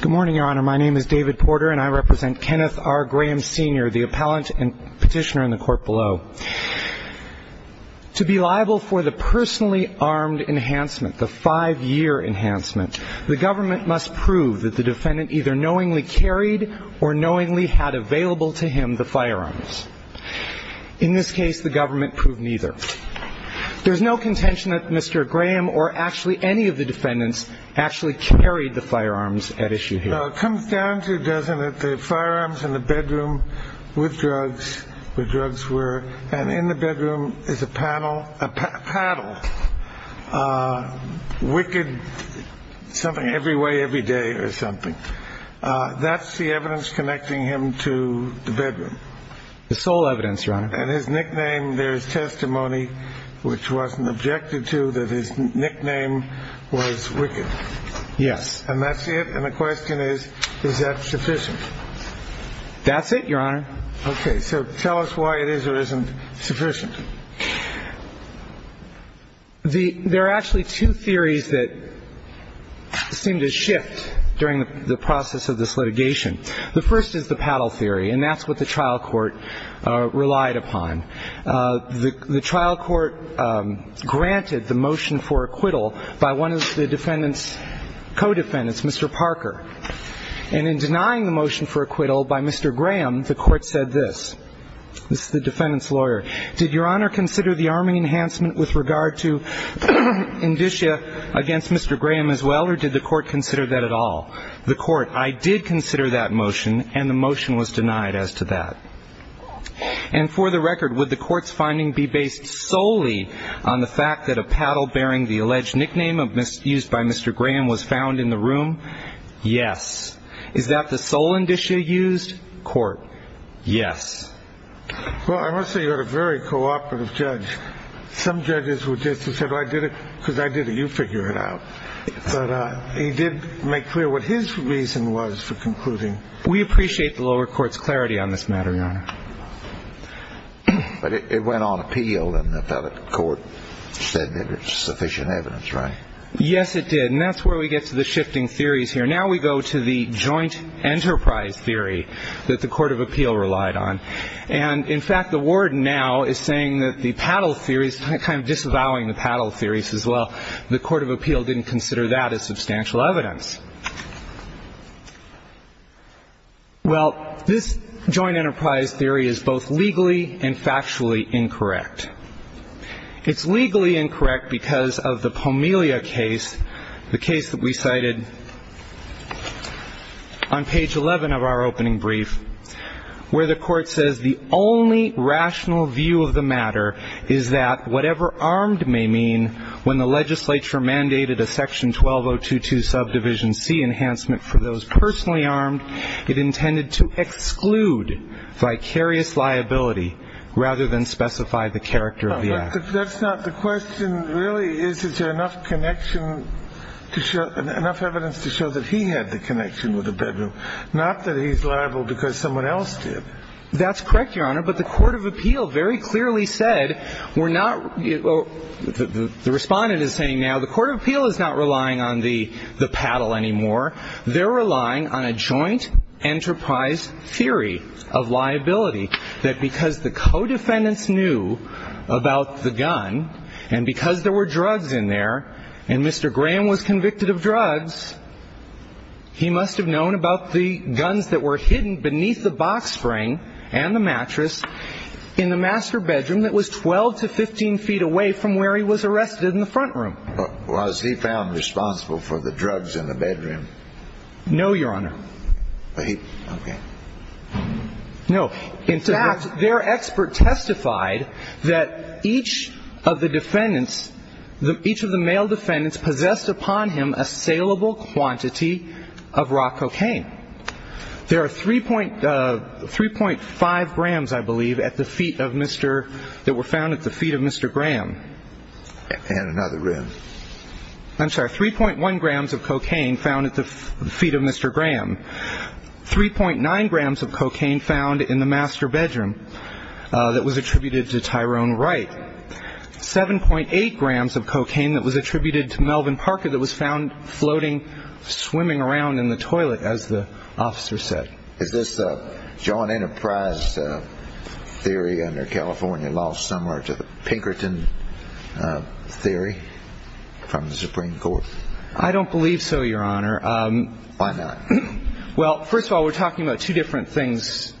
Good morning, Your Honor. My name is David Porter, and I represent Kenneth R. Graham, Sr., the appellant and petitioner in the court below. To be liable for the personally armed enhancement, the five-year enhancement, the government must prove that the defendant either knowingly carried or knowingly had available to him the firearms. In this case, the government proved neither. There's no contention that Mr. Graham or actually any of the defendants actually carried the firearms at issue here. No, it comes down to, doesn't it, the firearms in the bedroom with drugs, where drugs were, and in the bedroom is a paddle, wicked, something every way every day or something. That's the evidence connecting him to the bedroom. The sole evidence, Your Honor. And his nickname, there's testimony which wasn't objected to that his nickname was wicked. Yes. And that's it? And the question is, is that sufficient? That's it, Your Honor. Okay. So tell us why it is or isn't sufficient. There are actually two theories that seem to shift during the process of this litigation. The first is the paddle theory, and that's what the trial court relied upon. The trial court granted the motion for acquittal by one of the defendant's co-defendants, Mr. Parker. And in denying the motion for acquittal by Mr. Graham, the court said this. This is the defendant's lawyer. Did Your Honor consider the arming enhancement with regard to indicia against Mr. Graham as well, or did the court consider that at all? The court, I did consider that motion, and the motion was denied as to that. And for the record, would the court's finding be based solely on the fact that a paddle bearing the alleged nickname used by Mr. Graham was found in the room? Yes. Is that the sole indicia used? Court, yes. Well, I must say you had a very cooperative judge. Some judges would just have said, well, I did it because I did it. You figure it out. But he did make clear what his reason was for concluding. We appreciate the lower court's clarity on this matter, Your Honor. But it went on appeal, and the court said there was sufficient evidence, right? Yes, it did. And that's where we get to the shifting theories here. Now we go to the joint enterprise theory that the court of appeal relied on. And, in fact, the warden now is saying that the paddle theory is kind of disavowing the paddle theories as well. The court of appeal didn't consider that as substantial evidence. Well, this joint enterprise theory is both legally and factually incorrect. It's legally incorrect because of the Pomelia case, the case that we cited on page 11 of our opening brief, where the court says the only rational view of the matter is that whatever armed may mean when the legislature mandated a section 12022 subdivision C enhancement for those personally armed, it intended to exclude vicarious liability rather than specify the character of the act. That's not the question, really. Is there enough connection to show – enough evidence to show that he had the connection with the bedroom, not that he's liable because someone else did? That's correct, Your Honor. But the court of appeal very clearly said we're not – the Respondent is saying now the court of appeal is not relying on the paddle anymore. They're relying on a joint enterprise theory of liability, that because the co-defendants knew about the gun and because there were drugs in there and Mr. Graham was convicted of drugs, he must have known about the guns that were hidden beneath the box frame and the mattress in the master bedroom that was 12 to 15 feet away from where he was arrested in the front room. Was he found responsible for the drugs in the bedroom? No, Your Honor. Okay. No. In fact, their expert testified that each of the defendants – each of the male defendants possessed upon him a saleable quantity of raw cocaine. There are 3.5 grams, I believe, at the feet of Mr. – that were found at the feet of Mr. Graham. And another room. I'm sorry. 3.1 grams of cocaine found at the feet of Mr. Graham. 3.9 grams of cocaine found in the master bedroom that was attributed to Tyrone Wright. 7.8 grams of cocaine that was attributed to Melvin Parker that was found floating, swimming around in the toilet, as the officer said. Is this John Enterprise theory under California law similar to the Pinkerton theory from the Supreme Court? I don't believe so, Your Honor. Why not? Well, first of all, we're talking about two different things.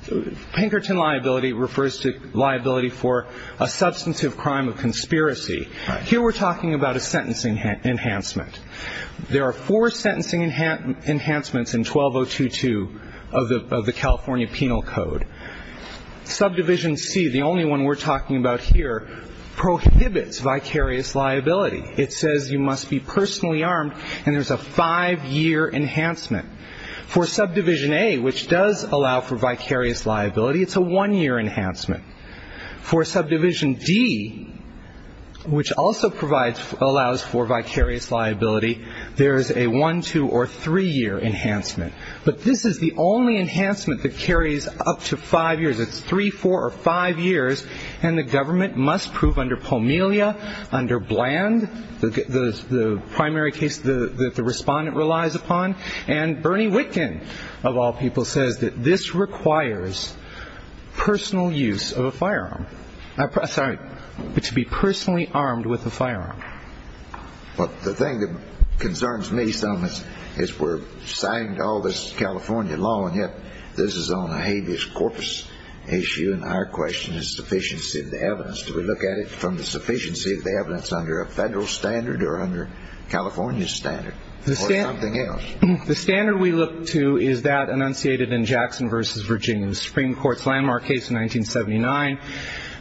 Pinkerton liability refers to liability for a substantive crime of conspiracy. Here we're talking about a sentencing enhancement. There are four sentencing enhancements in 12022 of the California Penal Code. Subdivision C, the only one we're talking about here, prohibits vicarious liability. It says you must be personally armed, and there's a five-year enhancement. For subdivision A, which does allow for vicarious liability, it's a one-year enhancement. For subdivision D, which also allows for vicarious liability, there is a one, two, or three-year enhancement. But this is the only enhancement that carries up to five years. It's three, four, or five years, and the government must prove under Pomelia, under Bland, the primary case that the respondent relies upon, and Bernie Whitkin, of all people, says that this requires personal use of a firearm. Sorry, to be personally armed with a firearm. Well, the thing that concerns me some is we're signing all this California law, and yet this is on a habeas corpus issue, and our question is sufficiency of the evidence. Do we look at it from the sufficiency of the evidence under a federal standard or under California's standard or something else? The standard we look to is that enunciated in Jackson v. Virginia, the Supreme Court's landmark case in 1979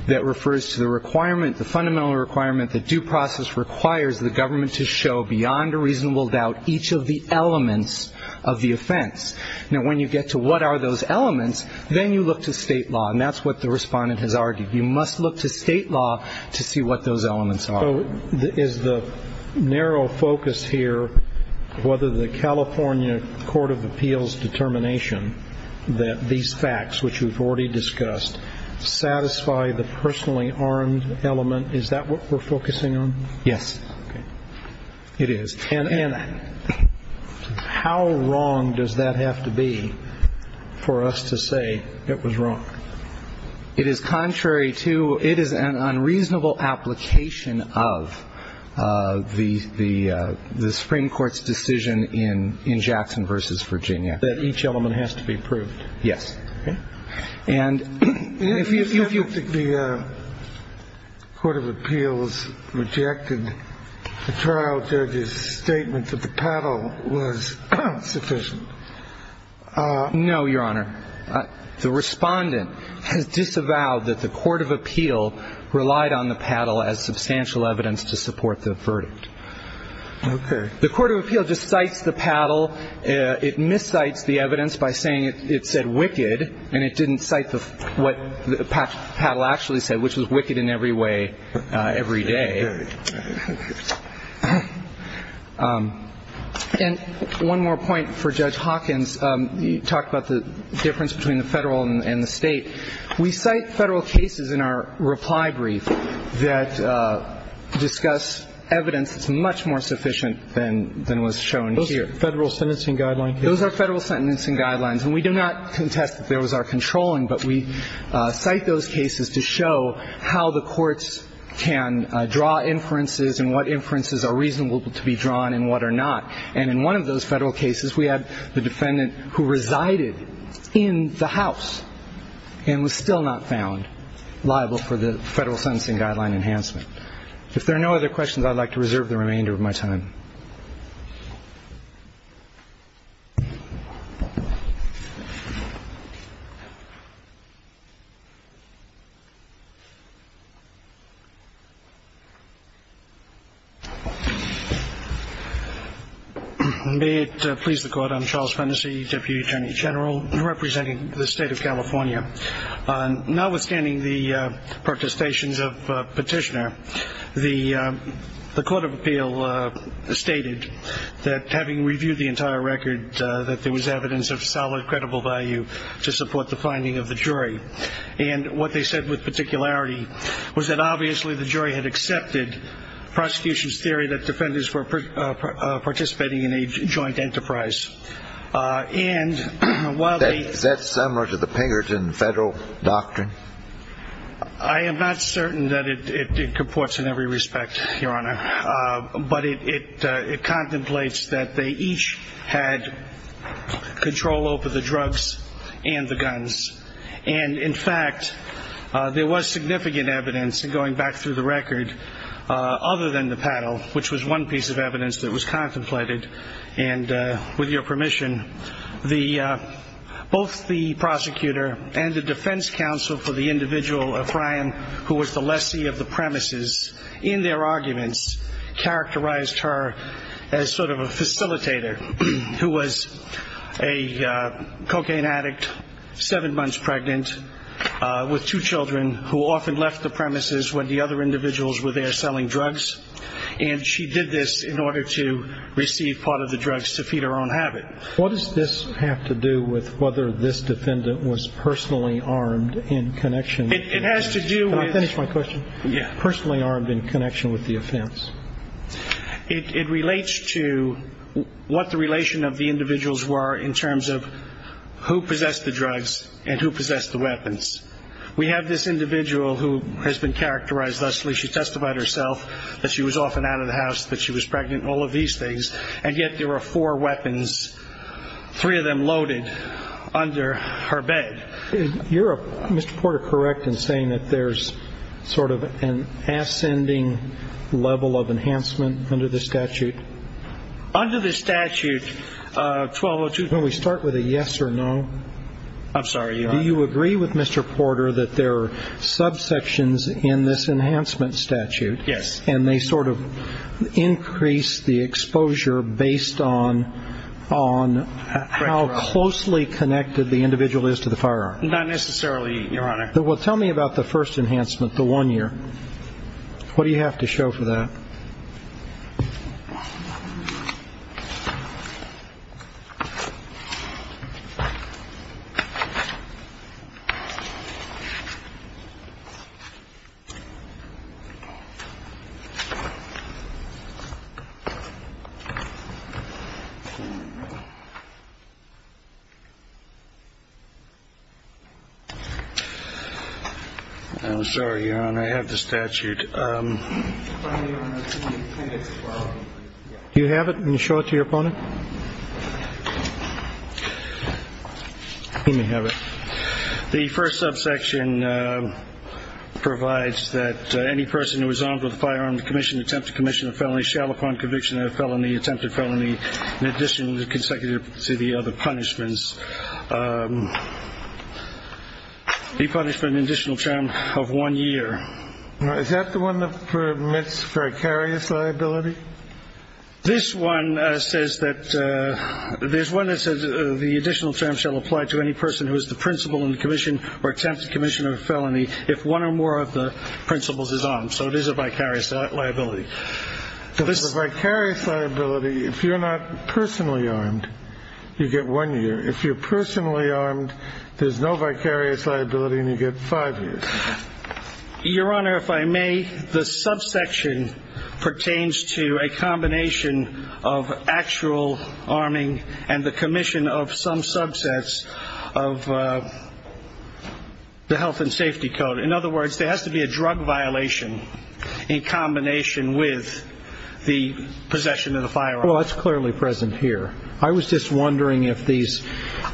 that refers to the requirement, the fundamental requirement, the due process requires the government to show beyond a reasonable doubt each of the elements of the offense. Now, when you get to what are those elements, then you look to state law, and that's what the respondent has argued. You must look to state law to see what those elements are. So is the narrow focus here whether the California Court of Appeals determination that these facts, which we've already discussed, satisfy the personally armed element, is that what we're focusing on? Yes. Okay. It is. And how wrong does that have to be for us to say it was wrong? It is contrary to ‑‑ it is an unreasonable application of the Supreme Court's decision in Jackson v. Virginia. That each element has to be proved. Yes. Okay. And if you ‑‑ The Court of Appeals rejected the trial judge's statement that the paddle was sufficient. No, Your Honor. The respondent has disavowed that the Court of Appeal relied on the paddle as substantial evidence to support the verdict. Okay. The Court of Appeal just cites the paddle. It miscites the evidence by saying it said wicked, and it didn't cite what the paddle actually said, which was wicked in every way every day. Okay. And one more point for Judge Hawkins. You talked about the difference between the Federal and the State. We cite Federal cases in our reply brief that discuss evidence that's much more sufficient than was shown here. Those are Federal sentencing guidelines? Those are Federal sentencing guidelines. And we do not contest that there was our controlling, but we cite those cases to show how the courts can draw inferences and what inferences are reasonable to be drawn and what are not. And in one of those Federal cases, we had the defendant who resided in the house and was still not found liable for the Federal sentencing guideline enhancement. If there are no other questions, I'd like to reserve the remainder of my time. May it please the Court. I'm Charles Fennessy, Deputy Attorney General, representing the State of California. Notwithstanding the protestations of Petitioner, the Court of Appeal stated that having reviewed the entire record, that there was evidence of solid, credible value to support the finding of the jury. And what they said with particularity was that obviously the jury had accepted prosecution's theory that defenders were participating in a joint enterprise. Is that similar to the Pinkerton Federal doctrine? I am not certain that it comports in every respect, Your Honor. But it contemplates that they each had control over the drugs and the guns. And, in fact, there was significant evidence, going back through the record, other than the paddle, which was one piece of evidence that was contemplated. And, with your permission, both the prosecutor and the defense counsel for the individual, O'Brien, who was the lessee of the premises, in their arguments characterized her as sort of a facilitator, who was a cocaine addict, seven months pregnant, with two children, who often left the premises when the other individuals were there selling drugs. And she did this in order to receive part of the drugs to feed her own habit. What does this have to do with whether this defendant was personally armed in connection? It has to do with... Can I finish my question? Yeah. Personally armed in connection with the offense. It relates to what the relation of the individuals were in terms of who possessed the drugs and who possessed the weapons. We have this individual who has been characterized thusly. She testified herself that she was often out of the house, that she was pregnant, all of these things. And yet there were four weapons, three of them loaded, under her bed. You're, Mr. Porter, correct in saying that there's sort of an ascending level of enhancement under this statute? Under this statute, 1202... Can we start with a yes or no? I'm sorry. Do you agree with Mr. Porter that there are subsections in this enhancement statute... Yes.... and they sort of increase the exposure based on how closely connected the individual is to the firearm? Not necessarily, Your Honor. Well, tell me about the first enhancement, the one year. What do you have to show for that? I'm sorry, Your Honor. I have the statute. Do you have it? Can you show it to your opponent? He may have it. The first subsection provides that any person who is armed with a firearm to commission an attempt to commission a felony shall, upon conviction of a felony, attempt a felony in addition to consecutive to the other punishments...... the punishment in additional term of one year. Is that the one that permits vicarious liability? This one says that... There's one that says the additional term shall apply to any person who is the principal in commission or attempts to commission a felony if one or more of the principals is armed. So it is a vicarious liability. So this is a vicarious liability if you're not personally armed, you get one year. If you're personally armed, there's no vicarious liability and you get five years. Your Honor, if I may, the subsection pertains to a combination of actual arming and the commission of some subsets of the Health and Safety Code. In other words, there has to be a drug violation in combination with the possession of the firearm. Well, that's clearly present here. I was just wondering if these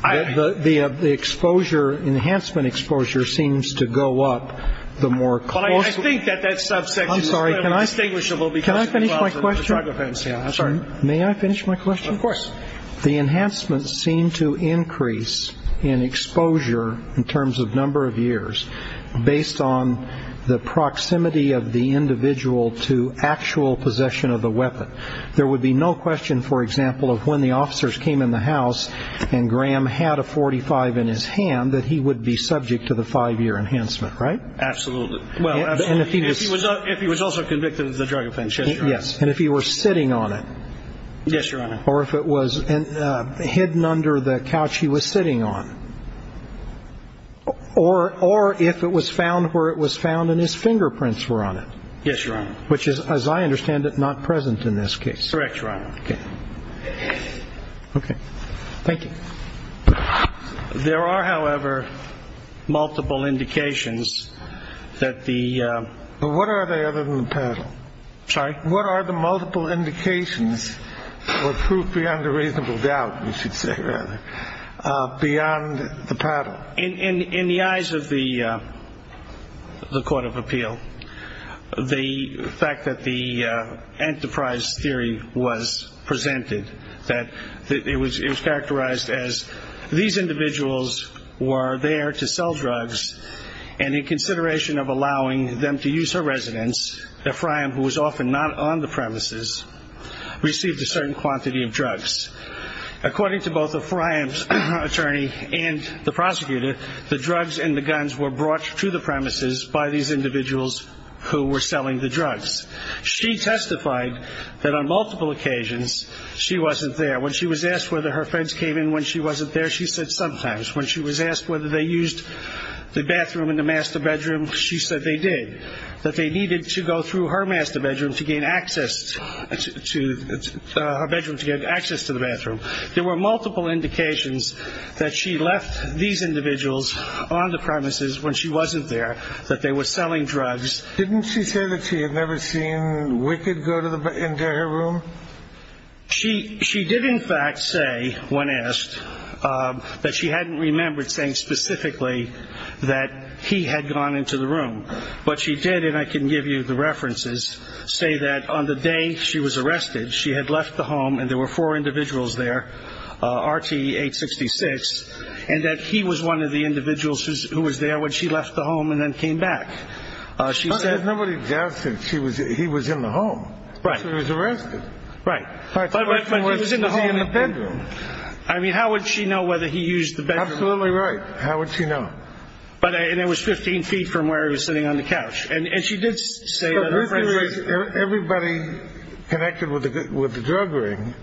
the exposure, enhancement exposure, seems to go up the more closely. Well, I think that that subsection is clearly distinguishable because... Can I finish my question? I'm sorry. May I finish my question? Of course. The enhancements seem to increase in exposure in terms of number of years based on the proximity of the individual to actual possession of the weapon. But there would be no question, for example, of when the officers came in the house and Graham had a .45 in his hand that he would be subject to the five-year enhancement, right? Absolutely. And if he was... If he was also convicted of the drug offense, yes, Your Honor. Yes, and if he were sitting on it. Yes, Your Honor. Or if it was hidden under the couch he was sitting on. Or if it was found where it was found and his fingerprints were on it. Yes, Your Honor. Which is, as I understand it, not present in this case. Correct, Your Honor. Okay. Okay. Thank you. There are, however, multiple indications that the... What are they other than the paddle? Sorry? What are the multiple indications or proof beyond a reasonable doubt, you should say, rather, beyond the paddle? In the eyes of the Court of Appeal, the fact that the enterprise theory was presented, that it was characterized as these individuals were there to sell drugs and in consideration of allowing them to use her residence, Ephraim, who was often not on the premises, received a certain quantity of drugs. According to both Ephraim's attorney and the prosecutor, the drugs and the guns were brought to the premises by these individuals who were selling the drugs. She testified that on multiple occasions she wasn't there. When she was asked whether her friends came in when she wasn't there, she said sometimes. When she was asked whether they used the bathroom in the master bedroom, she said they did, that they needed to go through her master bedroom to gain access to the bathroom. There were multiple indications that she left these individuals on the premises when she wasn't there, that they were selling drugs. Didn't she say that she had never seen Wicked go into her room? She did, in fact, say, when asked, that she hadn't remembered saying specifically that he had gone into the room, but she did, and I can give you the references, say that on the day she was arrested, she had left the home, and there were four individuals there, RTE 866, and that he was one of the individuals who was there when she left the home and then came back. She said. But there was nobody there since he was in the home. Right. He was arrested. Right. But when he was in the bedroom. I mean, how would she know whether he used the bedroom? Absolutely right. How would she know? And it was 15 feet from where he was sitting on the couch. And she did say that. Everybody connected with the drug ring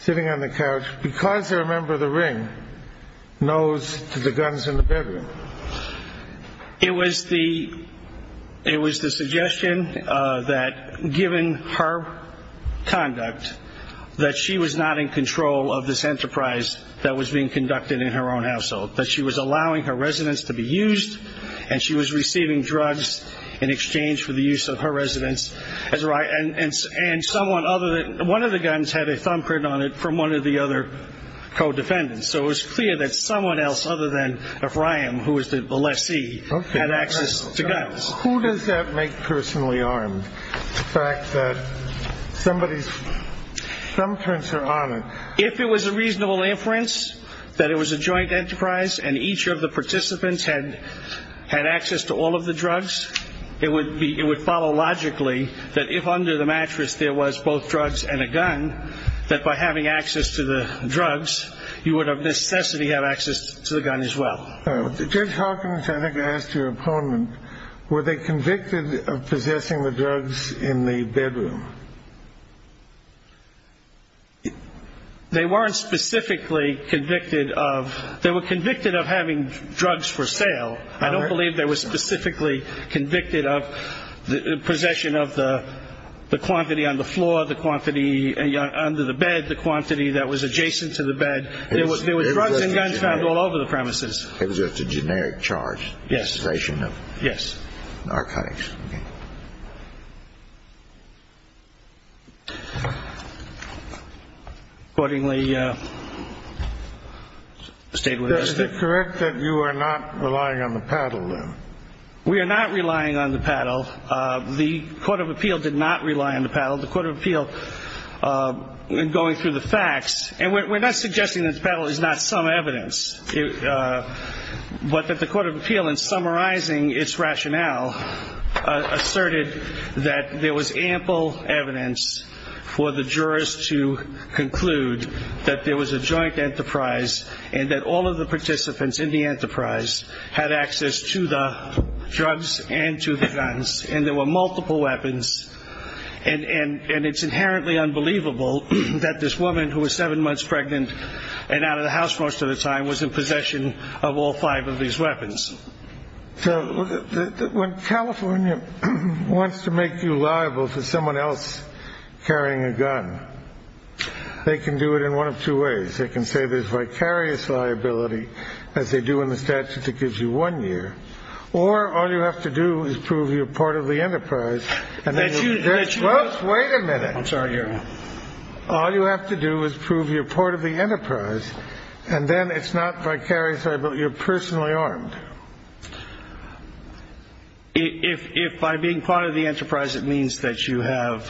sitting on the couch, because they're a member of the ring, knows the guns in the bedroom. It was the suggestion that given her conduct, that she was not in control of this enterprise that was being conducted in her own household, that she was allowing her residence to be used, and she was receiving drugs in exchange for the use of her residence. And one of the guns had a thumbprint on it from one of the other co-defendants. So it was clear that someone else other than Ephraim, who was the lessee, had access to guns. Who does that make personally armed, the fact that somebody's thumbprints are on it? If it was a reasonable inference that it was a joint enterprise and each of the participants had access to all of the drugs, it would follow logically that if under the mattress there was both drugs and a gun, that by having access to the drugs, you would of necessity have access to the gun as well. Judge Hawkins, I think I asked your opponent, were they convicted of possessing the drugs in the bedroom? They weren't specifically convicted of. They were convicted of having drugs for sale. I don't believe they were specifically convicted of possession of the quantity on the floor, the quantity under the bed, the quantity that was adjacent to the bed. There was drugs and guns found all over the premises. It was just a generic charge, possession of narcotics. Is it correct that you are not relying on the paddle, then? We are not relying on the paddle. The Court of Appeal did not rely on the paddle. The Court of Appeal, in going through the facts, and we're not suggesting that the paddle is not some evidence, but that the Court of Appeal, in summarizing its rationale, asserted that there was ample evidence for the jurors to conclude that there was a joint enterprise and that all of the participants in the enterprise had access to the drugs and to the guns and there were multiple weapons, and it's inherently unbelievable that this woman, who was seven months pregnant and out of the house most of the time, was in possession of all five of these weapons. When California wants to make you liable for someone else carrying a gun, they can do it in one of two ways. They can say there's vicarious liability, as they do in the statute that gives you one year, or all you have to do is prove you're part of the enterprise. Wait a minute. I'm sorry, Your Honor. All you have to do is prove you're part of the enterprise, and then it's not vicarious liability, you're personally armed. If by being part of the enterprise it means that you have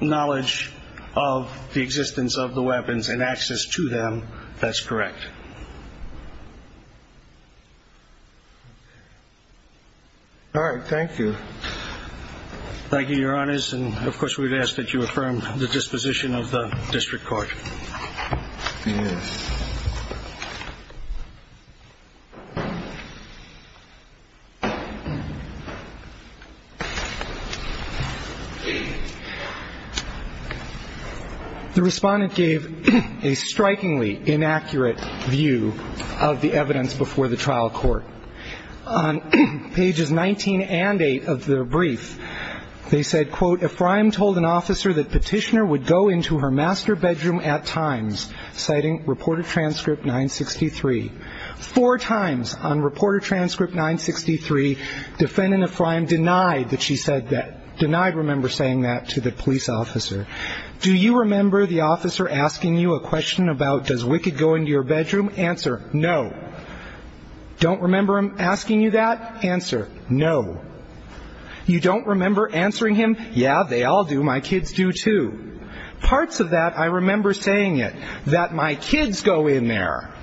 knowledge of the existence of the weapons and access to them, that's correct. All right. Thank you. Thank you, Your Honors. And, of course, we'd ask that you affirm the disposition of the district court. Yes. The Respondent gave a strikingly inaccurate view of the evidence before the trial court. On pages 19 and 8 of the brief, they said, quote, Ephraim told an officer that Petitioner would go into her master bedroom at times, citing Reported Transcript 963. Four times on Reported Transcript 963, Defendant Ephraim denied that she said that, denied, remember, saying that to the police officer. Do you remember the officer asking you a question about does Wicked go into your bedroom? Answer, no. Don't remember him asking you that? Answer, no. You don't remember answering him, yeah, they all do, my kids do, too? Parts of that I remember saying it, that my kids go in there.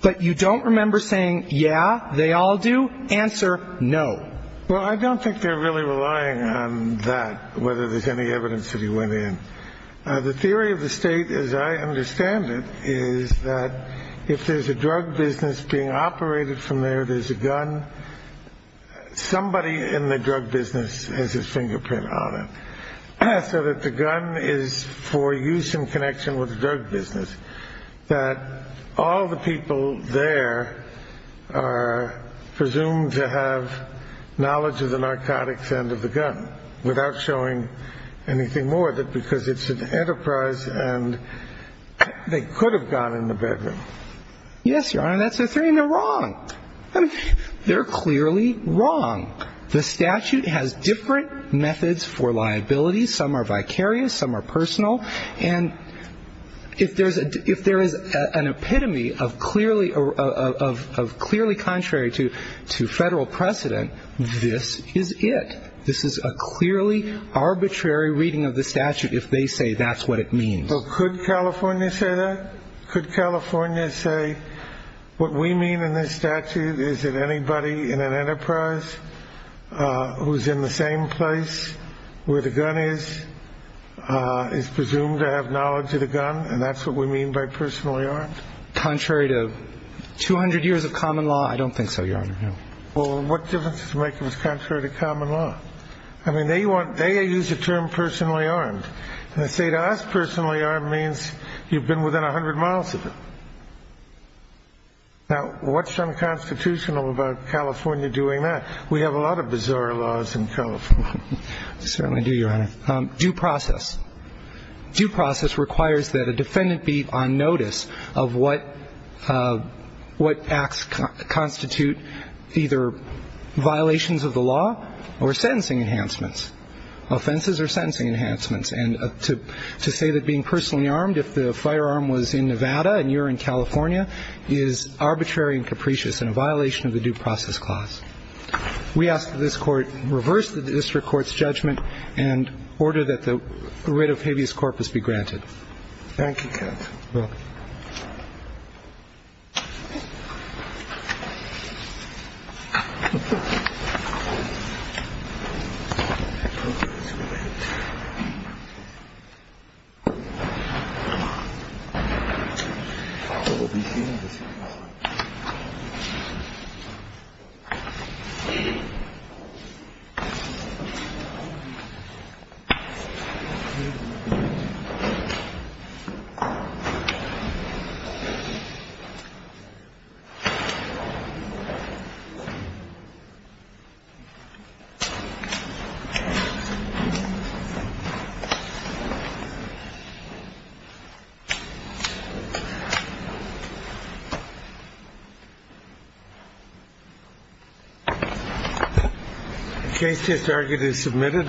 But you don't remember saying, yeah, they all do? Answer, no. Well, I don't think they're really relying on that, whether there's any evidence that he went in. The theory of the State, as I understand it, is that if there's a drug business being operated from there, there's a gun, somebody in the drug business has his fingerprint on it, so that the gun is for use in connection with the drug business, that all the people there are presumed to have knowledge of the narcotics and of the gun, without showing anything more, that because it's an enterprise and they could have gone in the bedroom. Yes, Your Honor, that's their theory, and they're wrong. I mean, they're clearly wrong. The statute has different methods for liability. Some are vicarious, some are personal. And if there is an epitome of clearly contrary to Federal precedent, this is it. This is a clearly arbitrary reading of the statute if they say that's what it means. So could California say that? Could California say what we mean in this statute is that anybody in an enterprise who's in the same place where the gun is is presumed to have knowledge of the gun, and that's what we mean by personal, Your Honor? Contrary to 200 years of common law, I don't think so, Your Honor. Well, what difference does it make if it's contrary to common law? I mean, they use the term personally armed, and to say to us personally armed means you've been within 100 miles of it. Now, what's unconstitutional about California doing that? We have a lot of bizarre laws in California. We certainly do, Your Honor. Due process. Due process requires that a defendant be on notice of what acts constitute either violations of the law or sentencing enhancements, offenses or sentencing enhancements. And to say that being personally armed, if the firearm was in Nevada and you're in California, is arbitrary and capricious and a violation of the due process clause. We ask that this Court reverse the district court's judgment and order that the writ of habeas corpus be granted. Thank you, counsel. You're welcome. Thank you. The case is argued and submitted.